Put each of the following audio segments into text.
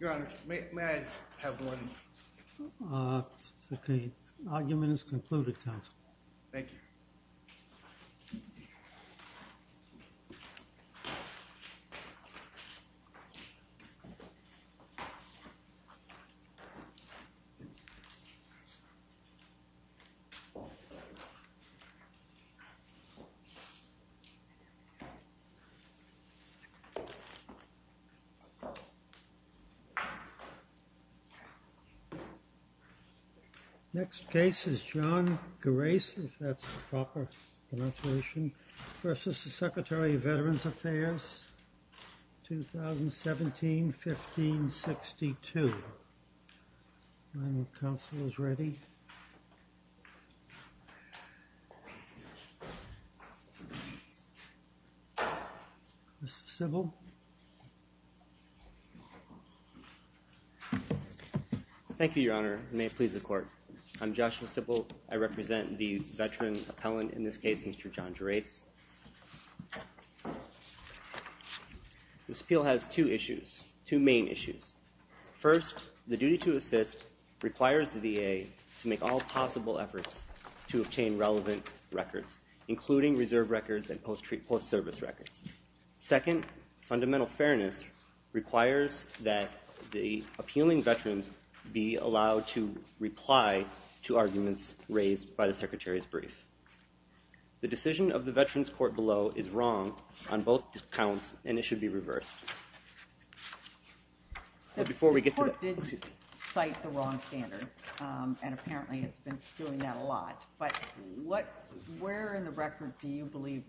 Your Honor, may I have one? Okay. Argument is concluded, Counsel. Thank you. Next case is John Grace, if that's the proper pronunciation, v. Secretary of Veterans Affairs, 2017-1562. My Counsel is ready. Mr. Sybil. Thank you, Your Honor. May it please the Court. I'm Joshua Sybil. I represent the veteran appellant in this case, Mr. John Grace. Mr. Sybil has two issues, two main issues. First, the duty to assist requires the VA to make all possible efforts to obtain relevant records, including reserve records and post-service records. Second, fundamental fairness requires that the appealing veterans be allowed to reply to arguments raised by the Secretary's brief. The decision of the Veterans Court below is wrong on both accounts, and it should be reversed. The Court did cite the wrong standard, and apparently it's been doing that a lot. But where in the record do you believe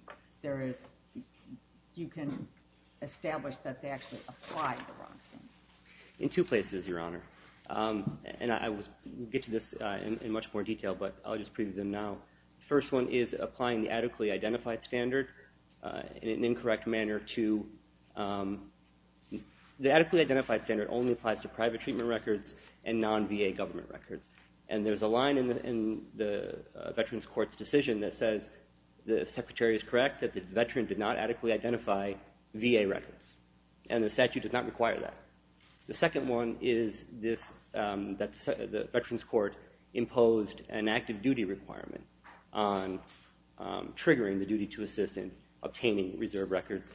you can establish that they actually applied the wrong standard? In two places, Your Honor. And we'll get to this in much more detail, but I'll just preview them now. The first one is applying the adequately identified standard in an incorrect manner to the adequately identified standard only applies to private treatment records and non-VA government records. And there's a line in the Veterans Court's decision that says the Secretary is correct that the veteran did not adequately identify VA records, and the statute does not require that. The second one is that the Veterans Court imposed an active duty requirement on triggering the duty to assist in obtaining reserve records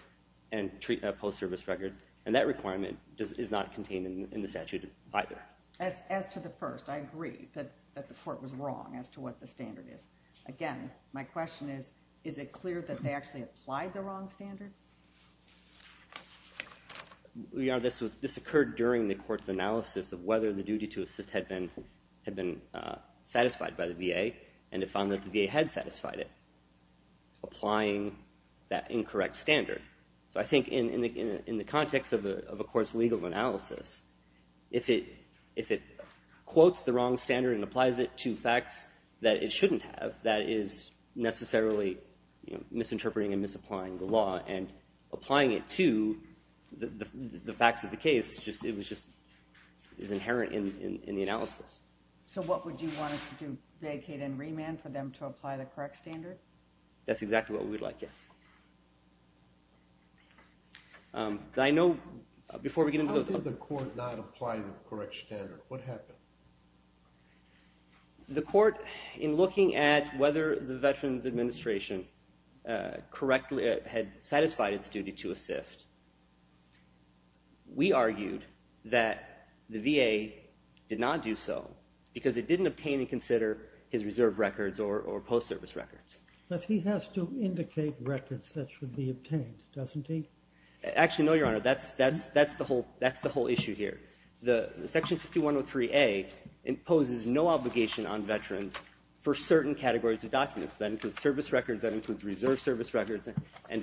and post-service records, and that requirement is not contained in the statute either. As to the first, I agree that the Court was wrong as to what the standard is. Again, my question is, is it clear that they actually applied the wrong standard? Your Honor, this occurred during the Court's analysis of whether the duty to assist had been satisfied by the VA, and it found that the VA had satisfied it, applying that incorrect standard. So I think in the context of a Court's legal analysis, if it quotes the wrong standard and applies it to facts that it shouldn't have, that is necessarily misinterpreting and misapplying the law, and applying it to the facts of the case is inherent in the analysis. So what would you want us to do, vacate and remand for them to apply the correct standard? That's exactly what we'd like, yes. How did the Court not apply the correct standard? What happened? The Court, in looking at whether the Veterans Administration correctly had satisfied its duty to assist, we argued that the VA did not do so because it didn't obtain and consider his reserve records or post-service records. But he has to indicate records that should be obtained, doesn't he? Actually, no, Your Honor, that's the whole issue here. Section 5103A imposes no obligation on Veterans for certain categories of documents. That includes service records, that includes reserve service records, and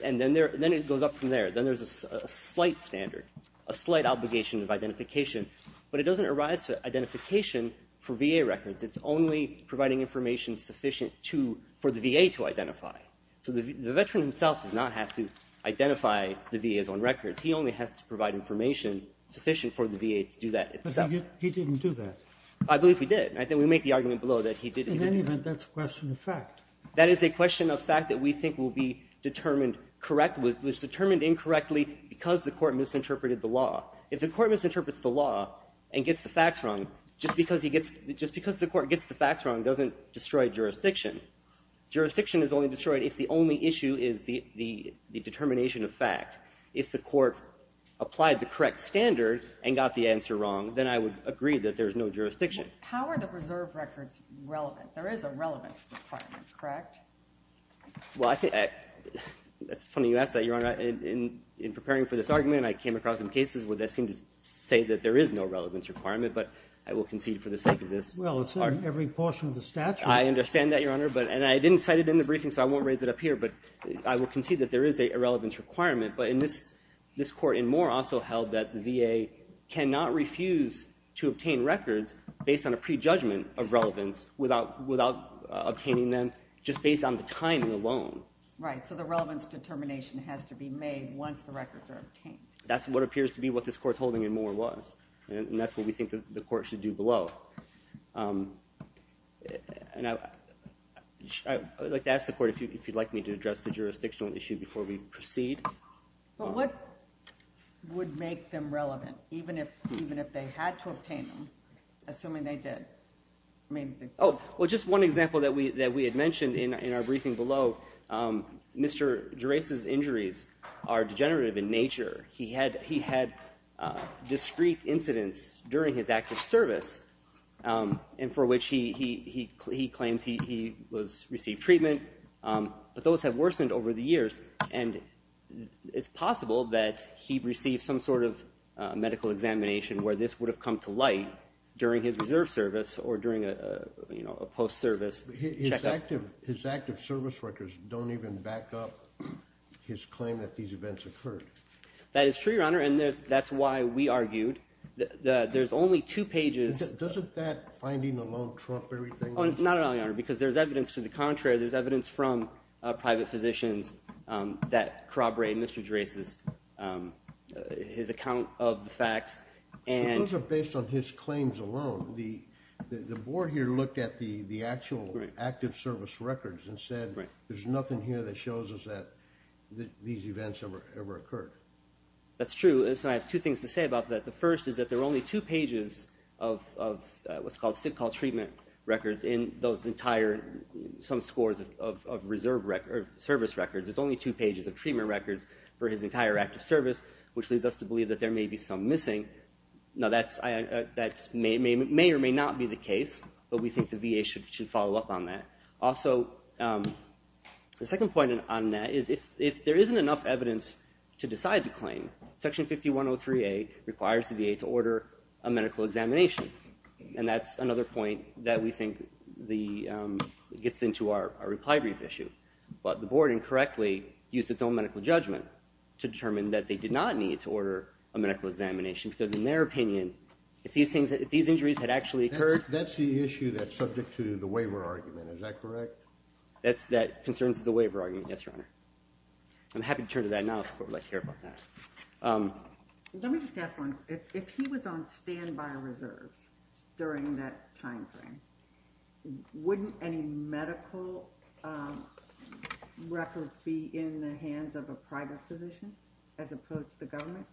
then it goes up from there. Then there's a slight standard, a slight obligation of identification, but it doesn't arise for identification for VA records. It's only providing information sufficient for the VA to identify. So the Veteran himself does not have to identify the VA's own records. He only has to provide information sufficient for the VA to do that itself. But he didn't do that. I believe he did. I think we make the argument below that he did. In any event, that's a question of fact. That is a question of fact that we think will be determined correct, was determined incorrectly because the Court misinterpreted the law. If the Court misinterprets the law and gets the facts wrong, just because the Court gets the facts wrong doesn't destroy jurisdiction. Jurisdiction is only destroyed if the only issue is the determination of fact. If the Court applied the correct standard and got the answer wrong, then I would agree that there's no jurisdiction. How are the reserve records relevant? There is a relevance requirement, correct? Well, that's funny you ask that, Your Honor. In preparing for this argument, I came across some cases where they seem to say that there is no relevance requirement, but I will concede for the sake of this argument. Well, it's in every portion of the statute. I understand that, Your Honor. And I didn't cite it in the briefing, so I won't raise it up here, but I will concede that there is a relevance requirement. But this Court in Moore also held that the VA cannot refuse to obtain records based on a prejudgment of relevance without obtaining them just based on the timing alone. Right, so the relevance determination has to be made once the records are obtained. That's what appears to be what this Court's holding in Moore was, and that's what we think the Court should do below. I would like to ask the Court if you'd like me to address the jurisdictional issue before we proceed. But what would make them relevant, even if they had to obtain them, assuming they did? Oh, well, just one example that we had mentioned in our briefing below. Mr. Gerace's injuries are degenerative in nature. He had discreet incidents during his active service and for which he claims he received treatment, but those have worsened over the years, and it's possible that he received some sort of medical examination where this would have come to light during his reserve service or during a post-service checkup. His active service records don't even back up his claim that these events occurred. That is true, Your Honor, and that's why we argued that there's only two pages. Doesn't that finding alone trump everything else? Not at all, Your Honor, because there's evidence to the contrary. There's evidence from private physicians that corroborate Mr. Gerace's account of the facts. Those are based on his claims alone. The Board here looked at the actual active service records and said there's nothing here that shows us that these events ever occurred. That's true, and so I have two things to say about that. The first is that there are only two pages of what's called sick call treatment records in some scores of service records. There's only two pages of treatment records for his entire active service, which leads us to believe that there may be some missing. Now, that may or may not be the case, but we think the VA should follow up on that. Also, the second point on that is if there isn't enough evidence to decide the claim, Section 5103A requires the VA to order a medical examination, and that's another point that we think gets into our reply brief issue. But the Board incorrectly used its own medical judgment to determine that they did not need to order a medical examination because, in their opinion, if these injuries had actually occurred That's the issue that's subject to the waiver argument. Is that correct? That concerns the waiver argument, yes, Your Honor. I'm happy to turn to that now if the Court would like to hear about that. Let me just ask one. If he was on standby reserves during that time frame, wouldn't any medical records be in the hands of a private physician as opposed to the government?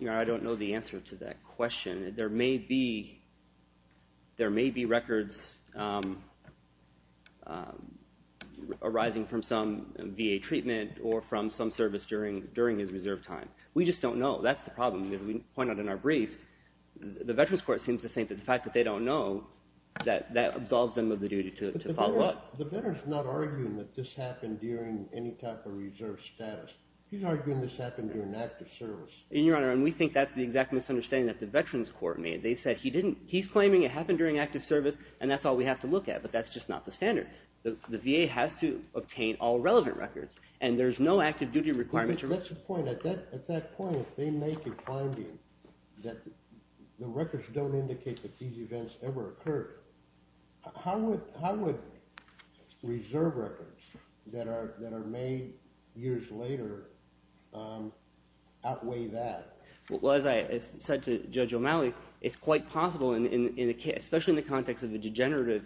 Your Honor, I don't know the answer to that question. There may be records arising from some VA treatment or from some service during his reserve time. We just don't know. That's the problem. As we pointed out in our brief, the Veterans Court seems to think that the fact that they don't know, that absolves them of the duty to follow up. But the veteran's not arguing that this happened during any type of reserve status. He's arguing this happened during active service. Your Honor, we think that's the exact misunderstanding that the Veterans Court made. They said he didn't. He's claiming it happened during active service, and that's all we have to look at. But that's just not the standard. The VA has to obtain all relevant records, and there's no active duty requirement. That's the point. At that point, if they make a finding that the records don't indicate that these events ever occurred, how would reserve records that are made years later outweigh that? Well, as I said to Judge O'Malley, it's quite possible, especially in the context of the degenerative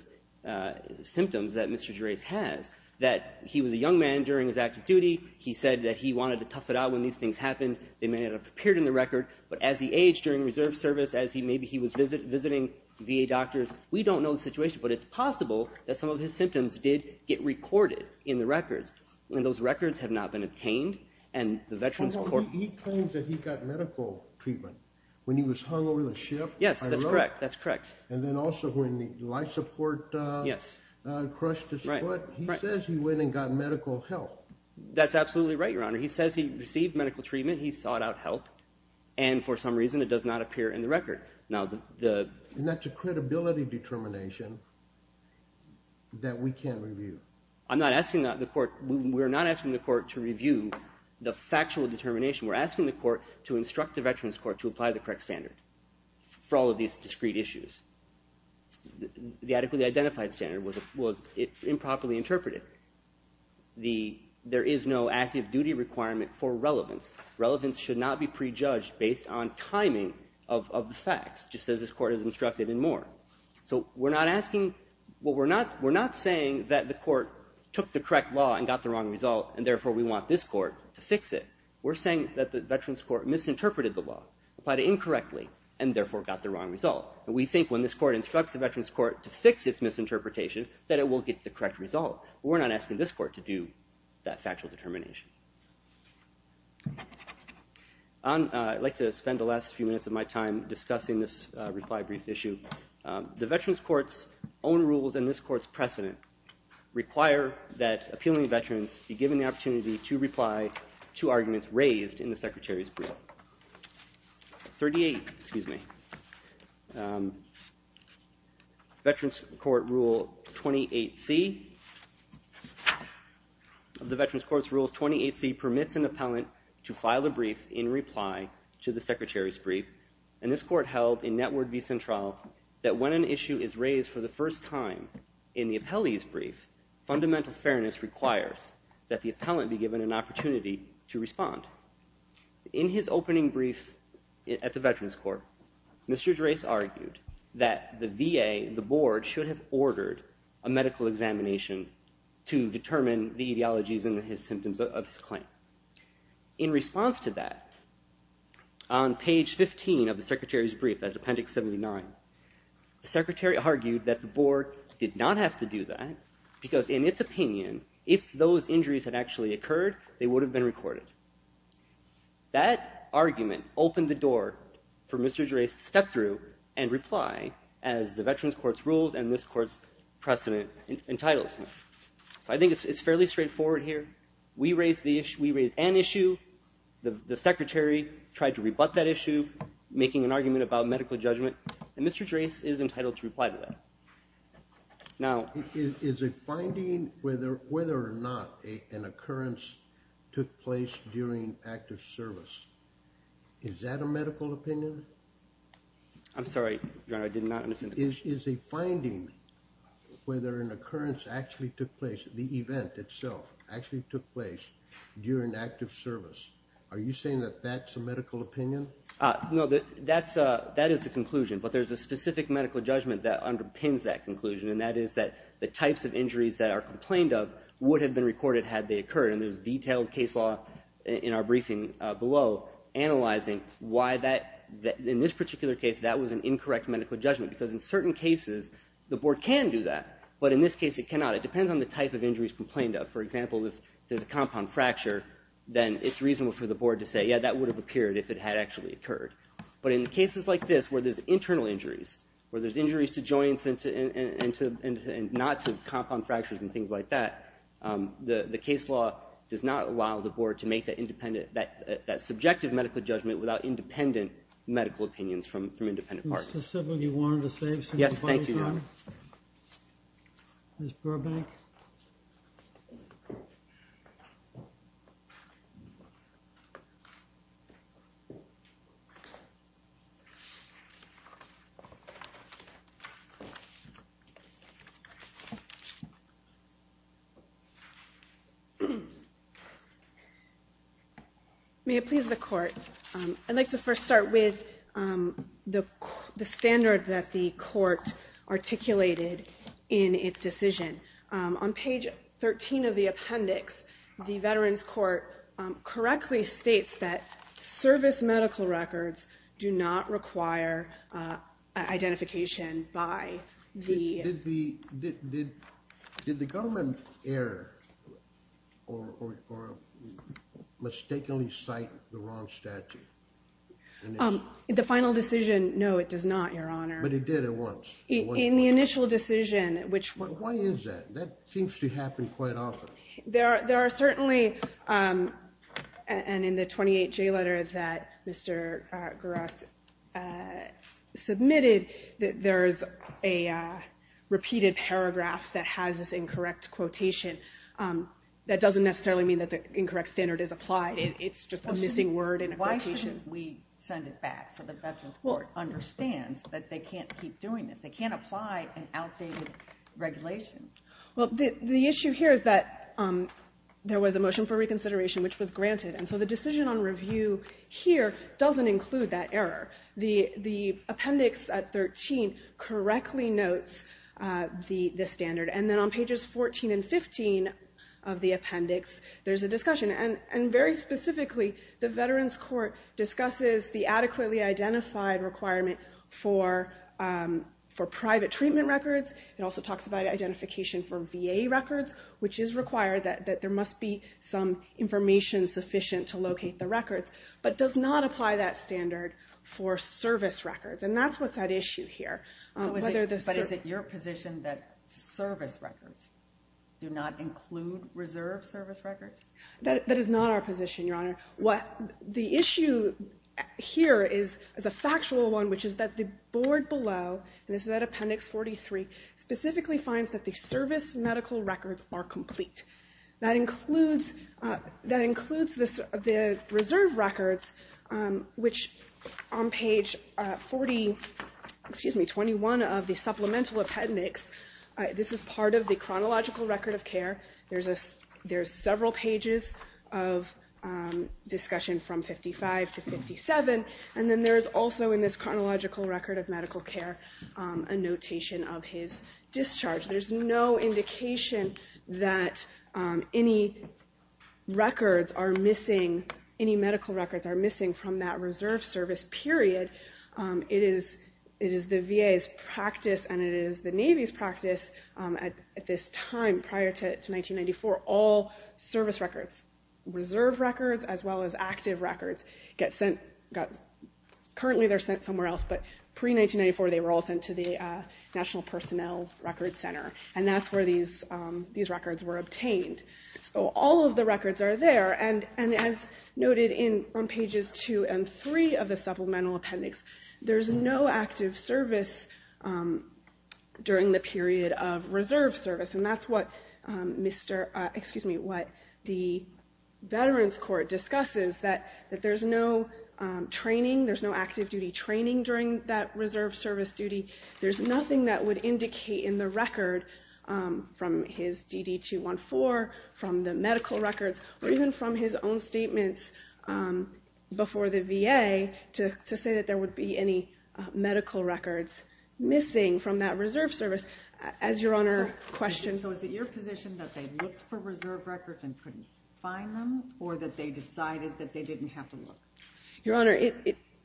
symptoms that Mr. Gerase has, that he was a young man during his active duty. He said that he wanted to tough it out when these things happened. They may not have appeared in the record, but as he aged during reserve service, maybe he was visiting VA doctors. We don't know the situation, but it's possible that some of his symptoms did get recorded in the records, and those records have not been obtained. He claims that he got medical treatment when he was hung over the ship. Yes, that's correct. That's correct. And then also when the life support crushed his foot. He says he went and got medical help. That's absolutely right, Your Honor. He says he received medical treatment. He sought out help, and for some reason it does not appear in the record. And that's a credibility determination that we can't review. I'm not asking the court. We're not asking the court to review the factual determination. We're asking the court to instruct the Veterans Court to apply the correct standard for all of these discrete issues. The adequately identified standard was improperly interpreted. There is no active duty requirement for relevance. Relevance should not be prejudged based on timing of the facts, just as this court has instructed and more. So we're not asking, well, we're not saying that the court took the correct law and got the wrong result, and therefore we want this court to fix it. We're saying that the Veterans Court misinterpreted the law, applied it incorrectly, and therefore got the wrong result. And we think when this court instructs the Veterans Court to fix its misinterpretation, that it will get the correct result. We're not asking this court to do that factual determination. I'd like to spend the last few minutes of my time discussing this reply brief issue. The Veterans Court's own rules and this court's precedent require that appealing veterans be given the opportunity to reply to arguments raised in the Secretary's brief. 38, excuse me. Veterans Court Rule 28C. The Veterans Court's Rule 28C permits an appellant to file a brief in reply to the Secretary's brief, and this court held in Network v. Central that when an issue is raised for the first time in the appellee's brief, fundamental fairness requires that the appellant be given an opportunity to respond. In his opening brief at the Veterans Court, Mr. Drace argued that the VA, the board, should have ordered a medical examination to determine the etiologies and the symptoms of his claim. In response to that, on page 15 of the Secretary's brief, that's Appendix 79, the Secretary argued that the board did not have to do that because in its opinion, if those injuries had actually occurred, they would have been recorded. That argument opened the door for Mr. Drace to step through and reply as the Veterans Court's rules and this court's precedent entitles him. So I think it's fairly straightforward here. We raised an issue. The Secretary tried to rebut that issue, making an argument about medical judgment, and Mr. Drace is entitled to reply to that. Now, is a finding whether or not an occurrence took place during active service, is that a medical opinion? I'm sorry, Your Honor, I did not understand the question. Is a finding whether an occurrence actually took place, the event itself actually took place during active service, are you saying that that's a medical opinion? No, that is the conclusion, but there's a specific medical judgment that underpins that conclusion, and that is that the types of injuries that are complained of would have been recorded had they occurred, and there's detailed case law in our briefing below analyzing why that, in this particular case, that was an incorrect medical judgment because in certain cases the board can do that, but in this case it cannot. It depends on the type of injuries complained of. For example, if there's a compound fracture, then it's reasonable for the board to say, yeah, that would have appeared if it had actually occurred, but in cases like this where there's internal injuries, where there's injuries to joints and not to compound fractures and things like that, the case law does not allow the board to make that subjective medical judgment without independent medical opinions from independent parties. Mr. Sibley, you wanted to say something? Yes, thank you, Your Honor. Ms. Burbank. May it please the Court. I'd like to first start with the standard that the Court articulated in its decision. On page 13 of the appendix, the Veterans Court correctly states that service medical records do not require identification by the... Did the government err or mistakenly cite the wrong statute? The final decision, no, it does not, Your Honor. But it did at once. In the initial decision, which... But why is that? That seems to happen quite often. There are certainly... And in the 28J letter that Mr. Guras submitted, there is a repeated paragraph that has this incorrect quotation. That doesn't necessarily mean that the incorrect standard is applied. It's just a missing word in a quotation. Why shouldn't we send it back so the Veterans Court understands that they can't keep doing this? They can't apply an outdated regulation. Well, the issue here is that there was a motion for reconsideration, which was granted. And so the decision on review here doesn't include that error. The appendix at 13 correctly notes the standard. And then on pages 14 and 15 of the appendix, there's a discussion. And very specifically, the Veterans Court discusses the adequately identified requirement for private treatment records. It also talks about identification for VA records, which is required that there must be some information sufficient to locate the records, but does not apply that standard for service records. And that's what's at issue here. But is it your position that service records do not include reserve service records? That is not our position, Your Honor. The issue here is a factual one, which is that the board below, and this is at appendix 43, specifically finds that the service medical records are complete. That includes the reserve records, which on page 40, excuse me, 21 of the supplemental appendix, this is part of the chronological record of care. There's several pages of discussion from 55 to 57. And then there's also in this chronological record of medical care a notation of his discharge. There's no indication that any records are missing, any medical records are missing from that reserve service period. It is the VA's practice and it is the Navy's practice at this time prior to 1994, all service records, reserve records as well as active records, currently they're sent somewhere else, but pre-1994, they were all sent to the National Personnel Records Center. And that's where these records were obtained. So all of the records are there. And as noted on pages 2 and 3 of the supplemental appendix, there's no active service during the period of reserve service. And that's what the Veterans Court discusses, that there's no training, there's no active duty training during that reserve service duty. There's nothing that would indicate in the record from his DD-214, from the medical records, or even from his own statements before the VA, to say that there would be any medical records missing from that reserve service. As Your Honor questioned... So is it your position that they looked for reserve records and couldn't find them, or that they decided that they didn't have to look? Your Honor,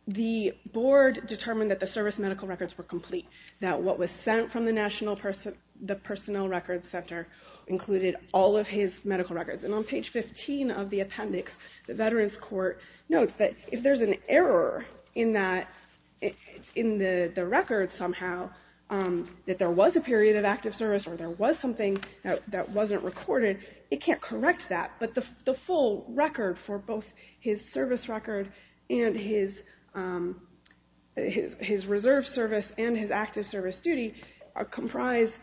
the board determined that the service medical records were complete, that what was sent from the National Personnel Records Center included all of his medical records. And on page 15 of the appendix, the Veterans Court notes that if there's an error in the record somehow, that there was a period of active service or there was something that wasn't recorded, it can't correct that. But the full record for both his service record and his reserve service and his active service duty comprise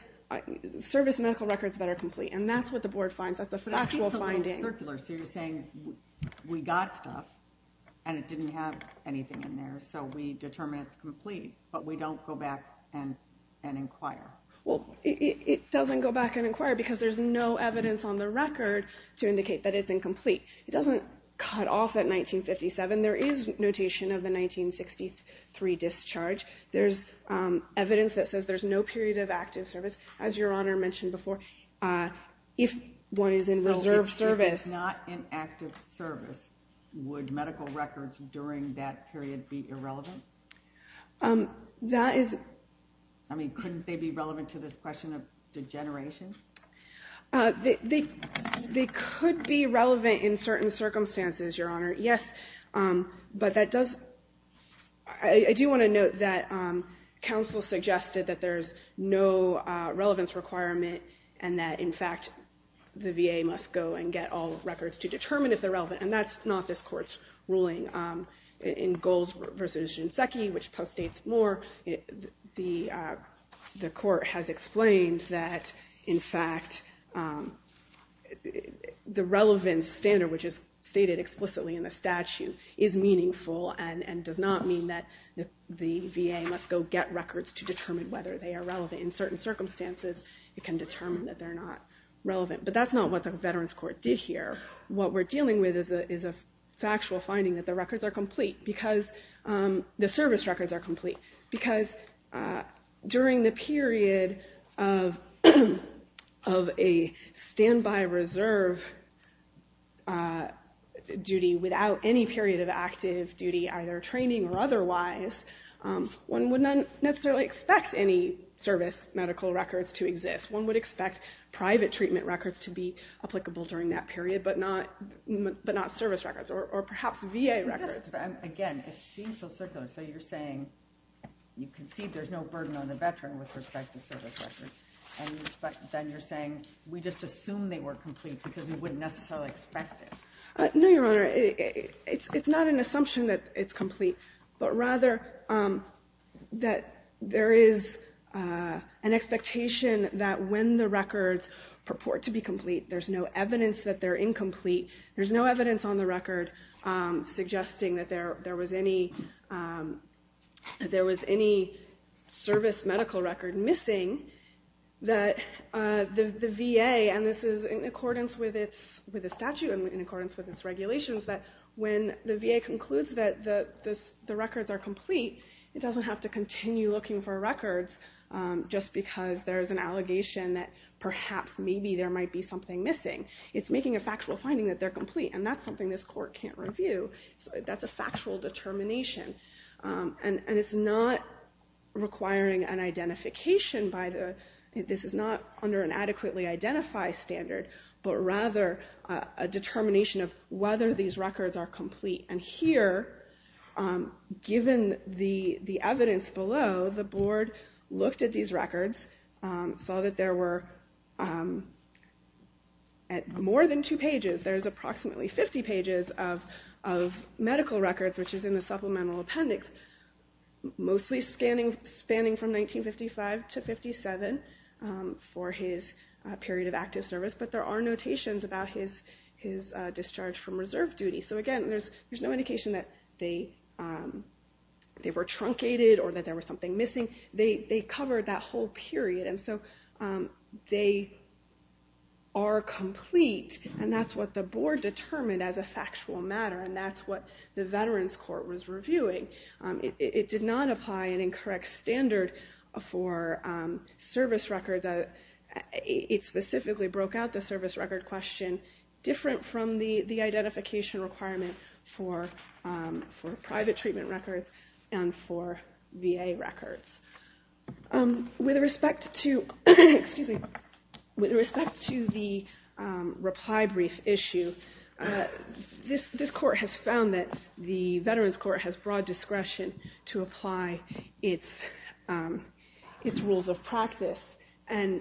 service medical records that are complete. And that's what the board finds. That's a factual finding. That seems a little circular. So you're saying we got stuff, and it didn't have anything in there, so we determine it's complete, but we don't go back and inquire. Well, it doesn't go back and inquire, because there's no evidence on the record to indicate that it's incomplete. It doesn't cut off at 1957. There is notation of the 1963 discharge. There's evidence that says there's no period of active service, as Your Honor mentioned before. If one is in reserve service. So if it's not in active service, would medical records during that period be irrelevant? That is. I mean, couldn't they be relevant to this question of degeneration? They could be relevant in certain circumstances, Your Honor, yes. But I do want to note that counsel suggested that there's no relevance requirement and that, in fact, the VA must go and get all records to determine if they're relevant, and that's not this Court's ruling. In Goals v. Shinseki, which postdates more, the Court has explained that, in fact, the relevance standard, which is stated explicitly in the statute, is meaningful and does not mean that the VA must go get records to determine whether they are relevant. In certain circumstances, it can determine that they're not relevant. But that's not what the Veterans Court did here. What we're dealing with is a factual finding that the records are complete, because the service records are complete, because during the period of a standby reserve duty without any period of active duty, either training or otherwise, one would not necessarily expect any service medical records to exist. One would expect private treatment records to be applicable during that period, but not service records or perhaps VA records. Again, it seems so circular. So you're saying you concede there's no burden on the Veteran with respect to service records, but then you're saying we just assume they were complete because we wouldn't necessarily expect it. No, Your Honor. It's not an assumption that it's complete, but rather that there is an expectation that when the records purport to be complete, there's no evidence that they're incomplete. There's no evidence on the record suggesting that there was any service medical record missing that the VA, and this is in accordance with the statute and in accordance with its regulations, that when the VA concludes that the records are complete, it doesn't have to continue looking for records just because there's an allegation that perhaps maybe there might be something missing. It's making a factual finding that they're complete, and that's something this Court can't review. That's a factual determination. And it's not requiring an identification by the... This is not under an adequately identified standard, but rather a determination of whether these records are complete. And here, given the evidence below, the Board looked at these records, saw that there were, at more than two pages, there's approximately 50 pages of medical records, which is in the supplemental appendix, mostly spanning from 1955 to 1957 for his period of active service, but there are notations about his discharge from reserve duty. So again, there's no indication that they were truncated or that there was something missing. They covered that whole period. And so they are complete, and that's what the Board determined as a factual matter, and that's what the Veterans Court was reviewing. It did not apply an incorrect standard for service records. It specifically broke out the service record question different from the identification requirement for private treatment records and for VA records. With respect to... Excuse me. With respect to the reply brief issue, this court has found that the Veterans Court has broad discretion to apply its rules of practice. And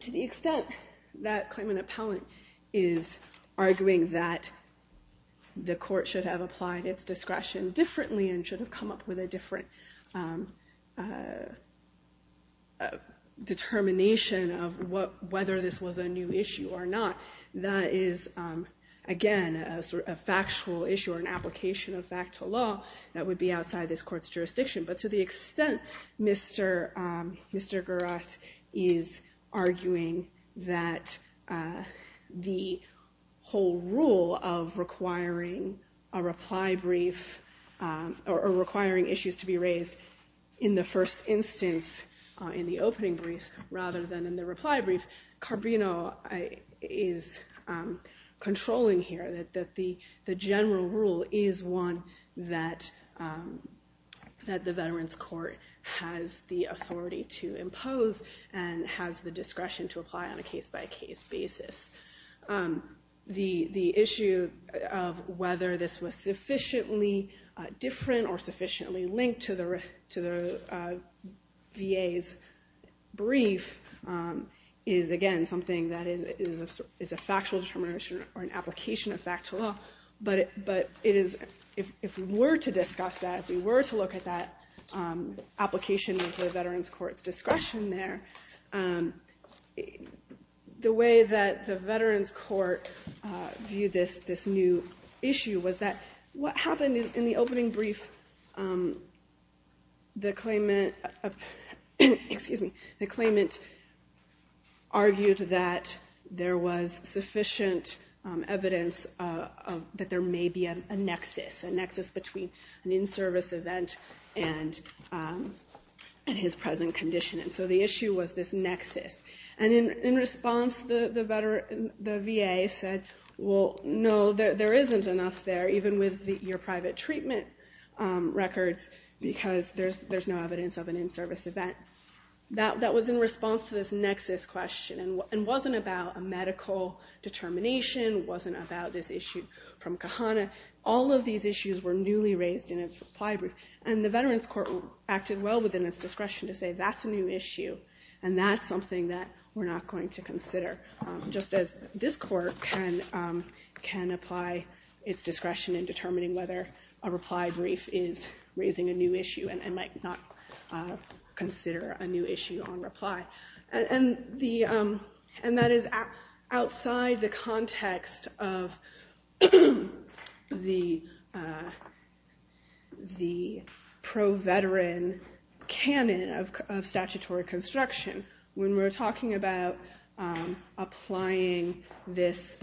to the extent that claimant appellant is arguing that the court should have applied its discretion differently and should have come up with a different determination of whether this was a new issue or not, that is, again, a factual issue or an application of fact to law that would be outside this court's jurisdiction. But to the extent Mr. Guras is arguing that the whole rule of requiring a reply brief or requiring issues to be raised in the first instance in the opening brief rather than in the reply brief, Carbino is controlling here that the general rule is one that the Veterans Court has the authority to impose and has the discretion to apply on a case-by-case basis. The issue of whether this was sufficiently different or sufficiently linked to the VA's brief is, again, something that is a factual determination or an application of fact to law. But if we were to discuss that, if we were to look at that application of the Veterans Court's discretion there, the way that the Veterans Court viewed this new issue was that what happened in the opening brief, the claimant argued that there was sufficient evidence that there may be a nexus, a nexus between an in-service event and his present condition. And so the issue was this nexus. And in response, the VA said, well, no, there isn't enough there, even with your private treatment records, because there's no evidence of an in-service event. That was in response to this nexus question and wasn't about a medical determination, wasn't about this issue from Kahana. All of these issues were newly raised in its reply brief. And the Veterans Court acted well within its discretion to say that's a new issue, and that's something that we're not going to consider, just as this Court can apply its discretion in determining whether a reply brief is raising a new issue and might not consider a new issue on reply. And that is outside the context of the pro-veteran canon of statutory construction. When we're talking about applying this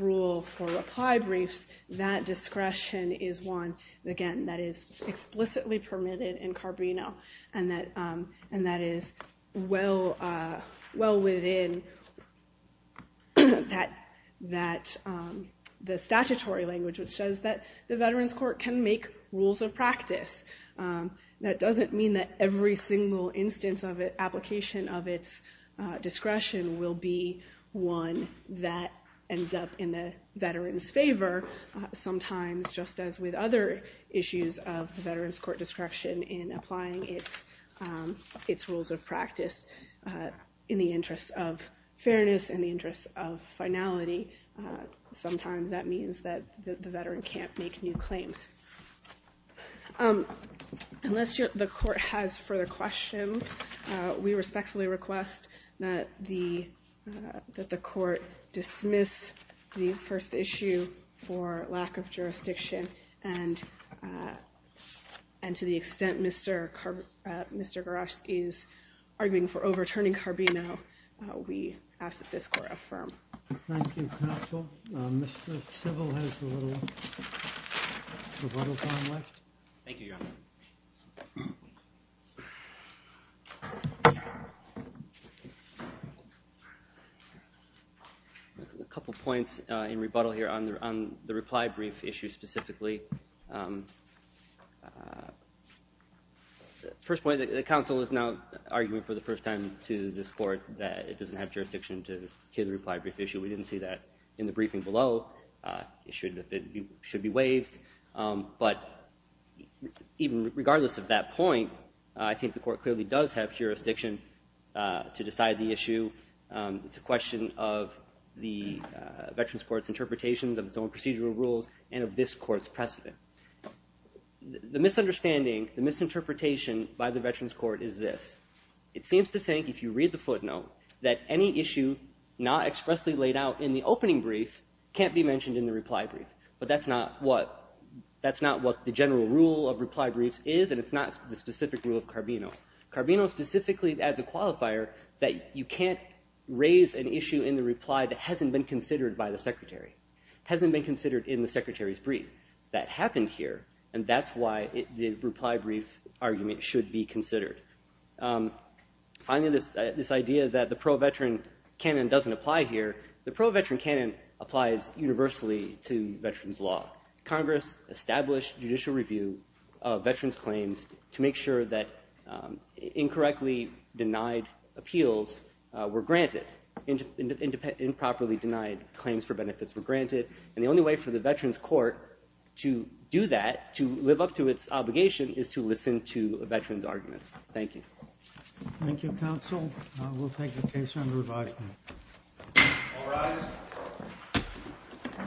rule for reply briefs, that discretion is one, again, that is explicitly permitted in Carbino, and that is well within the statutory language, which says that the Veterans Court can make rules of practice. That doesn't mean that every single instance of application of its discretion will be one that ends up in the veterans' favor, sometimes just as with other issues of the Veterans Court discretion in applying its rules of practice in the interest of fairness, in the interest of finality. Sometimes that means that the veteran can't make new claims. Unless the Court has further questions, we respectfully request that the Court dismiss the first issue for lack of jurisdiction and to the extent Mr. Goroshki is arguing for overturning Carbino, we ask that this Court affirm. Thank you, counsel. Mr. Stivel has a little rebuttal time left. Thank you, Your Honor. A couple points in rebuttal here on the reply brief issue specifically. First point, the counsel is now arguing for the first time to this Court that it doesn't have jurisdiction to hear the reply brief issue. We didn't see that in the briefing below. It should be waived. But even regardless of that point, I think the Court clearly does have jurisdiction to decide the issue. It's a question of the Veterans Court's interpretations of its own procedural rules and of this Court's precedent. The misunderstanding, the misinterpretation by the Veterans Court is this. It seems to think, if you read the footnote, that any issue not expressly laid out in the opening brief can't be mentioned in the reply brief. But that's not what the general rule of reply briefs is and it's not the specific rule of Carbino. Carbino specifically adds a qualifier that you can't raise an issue in the reply that hasn't been considered by the Secretary, hasn't been considered in the Secretary's brief. That happened here and that's why the reply brief argument should be considered. Finally, this idea that the pro-veteran canon doesn't apply here. The pro-veteran canon applies universally to veterans' law. Congress established judicial review of veterans' claims to make sure that incorrectly denied appeals were granted. Improperly denied claims for benefits were granted and the only way for the Veterans Court to do that, to live up to its obligation, is to listen to veterans' arguments. Thank you. Thank you, Counsel. We'll take the case under advisement. All rise.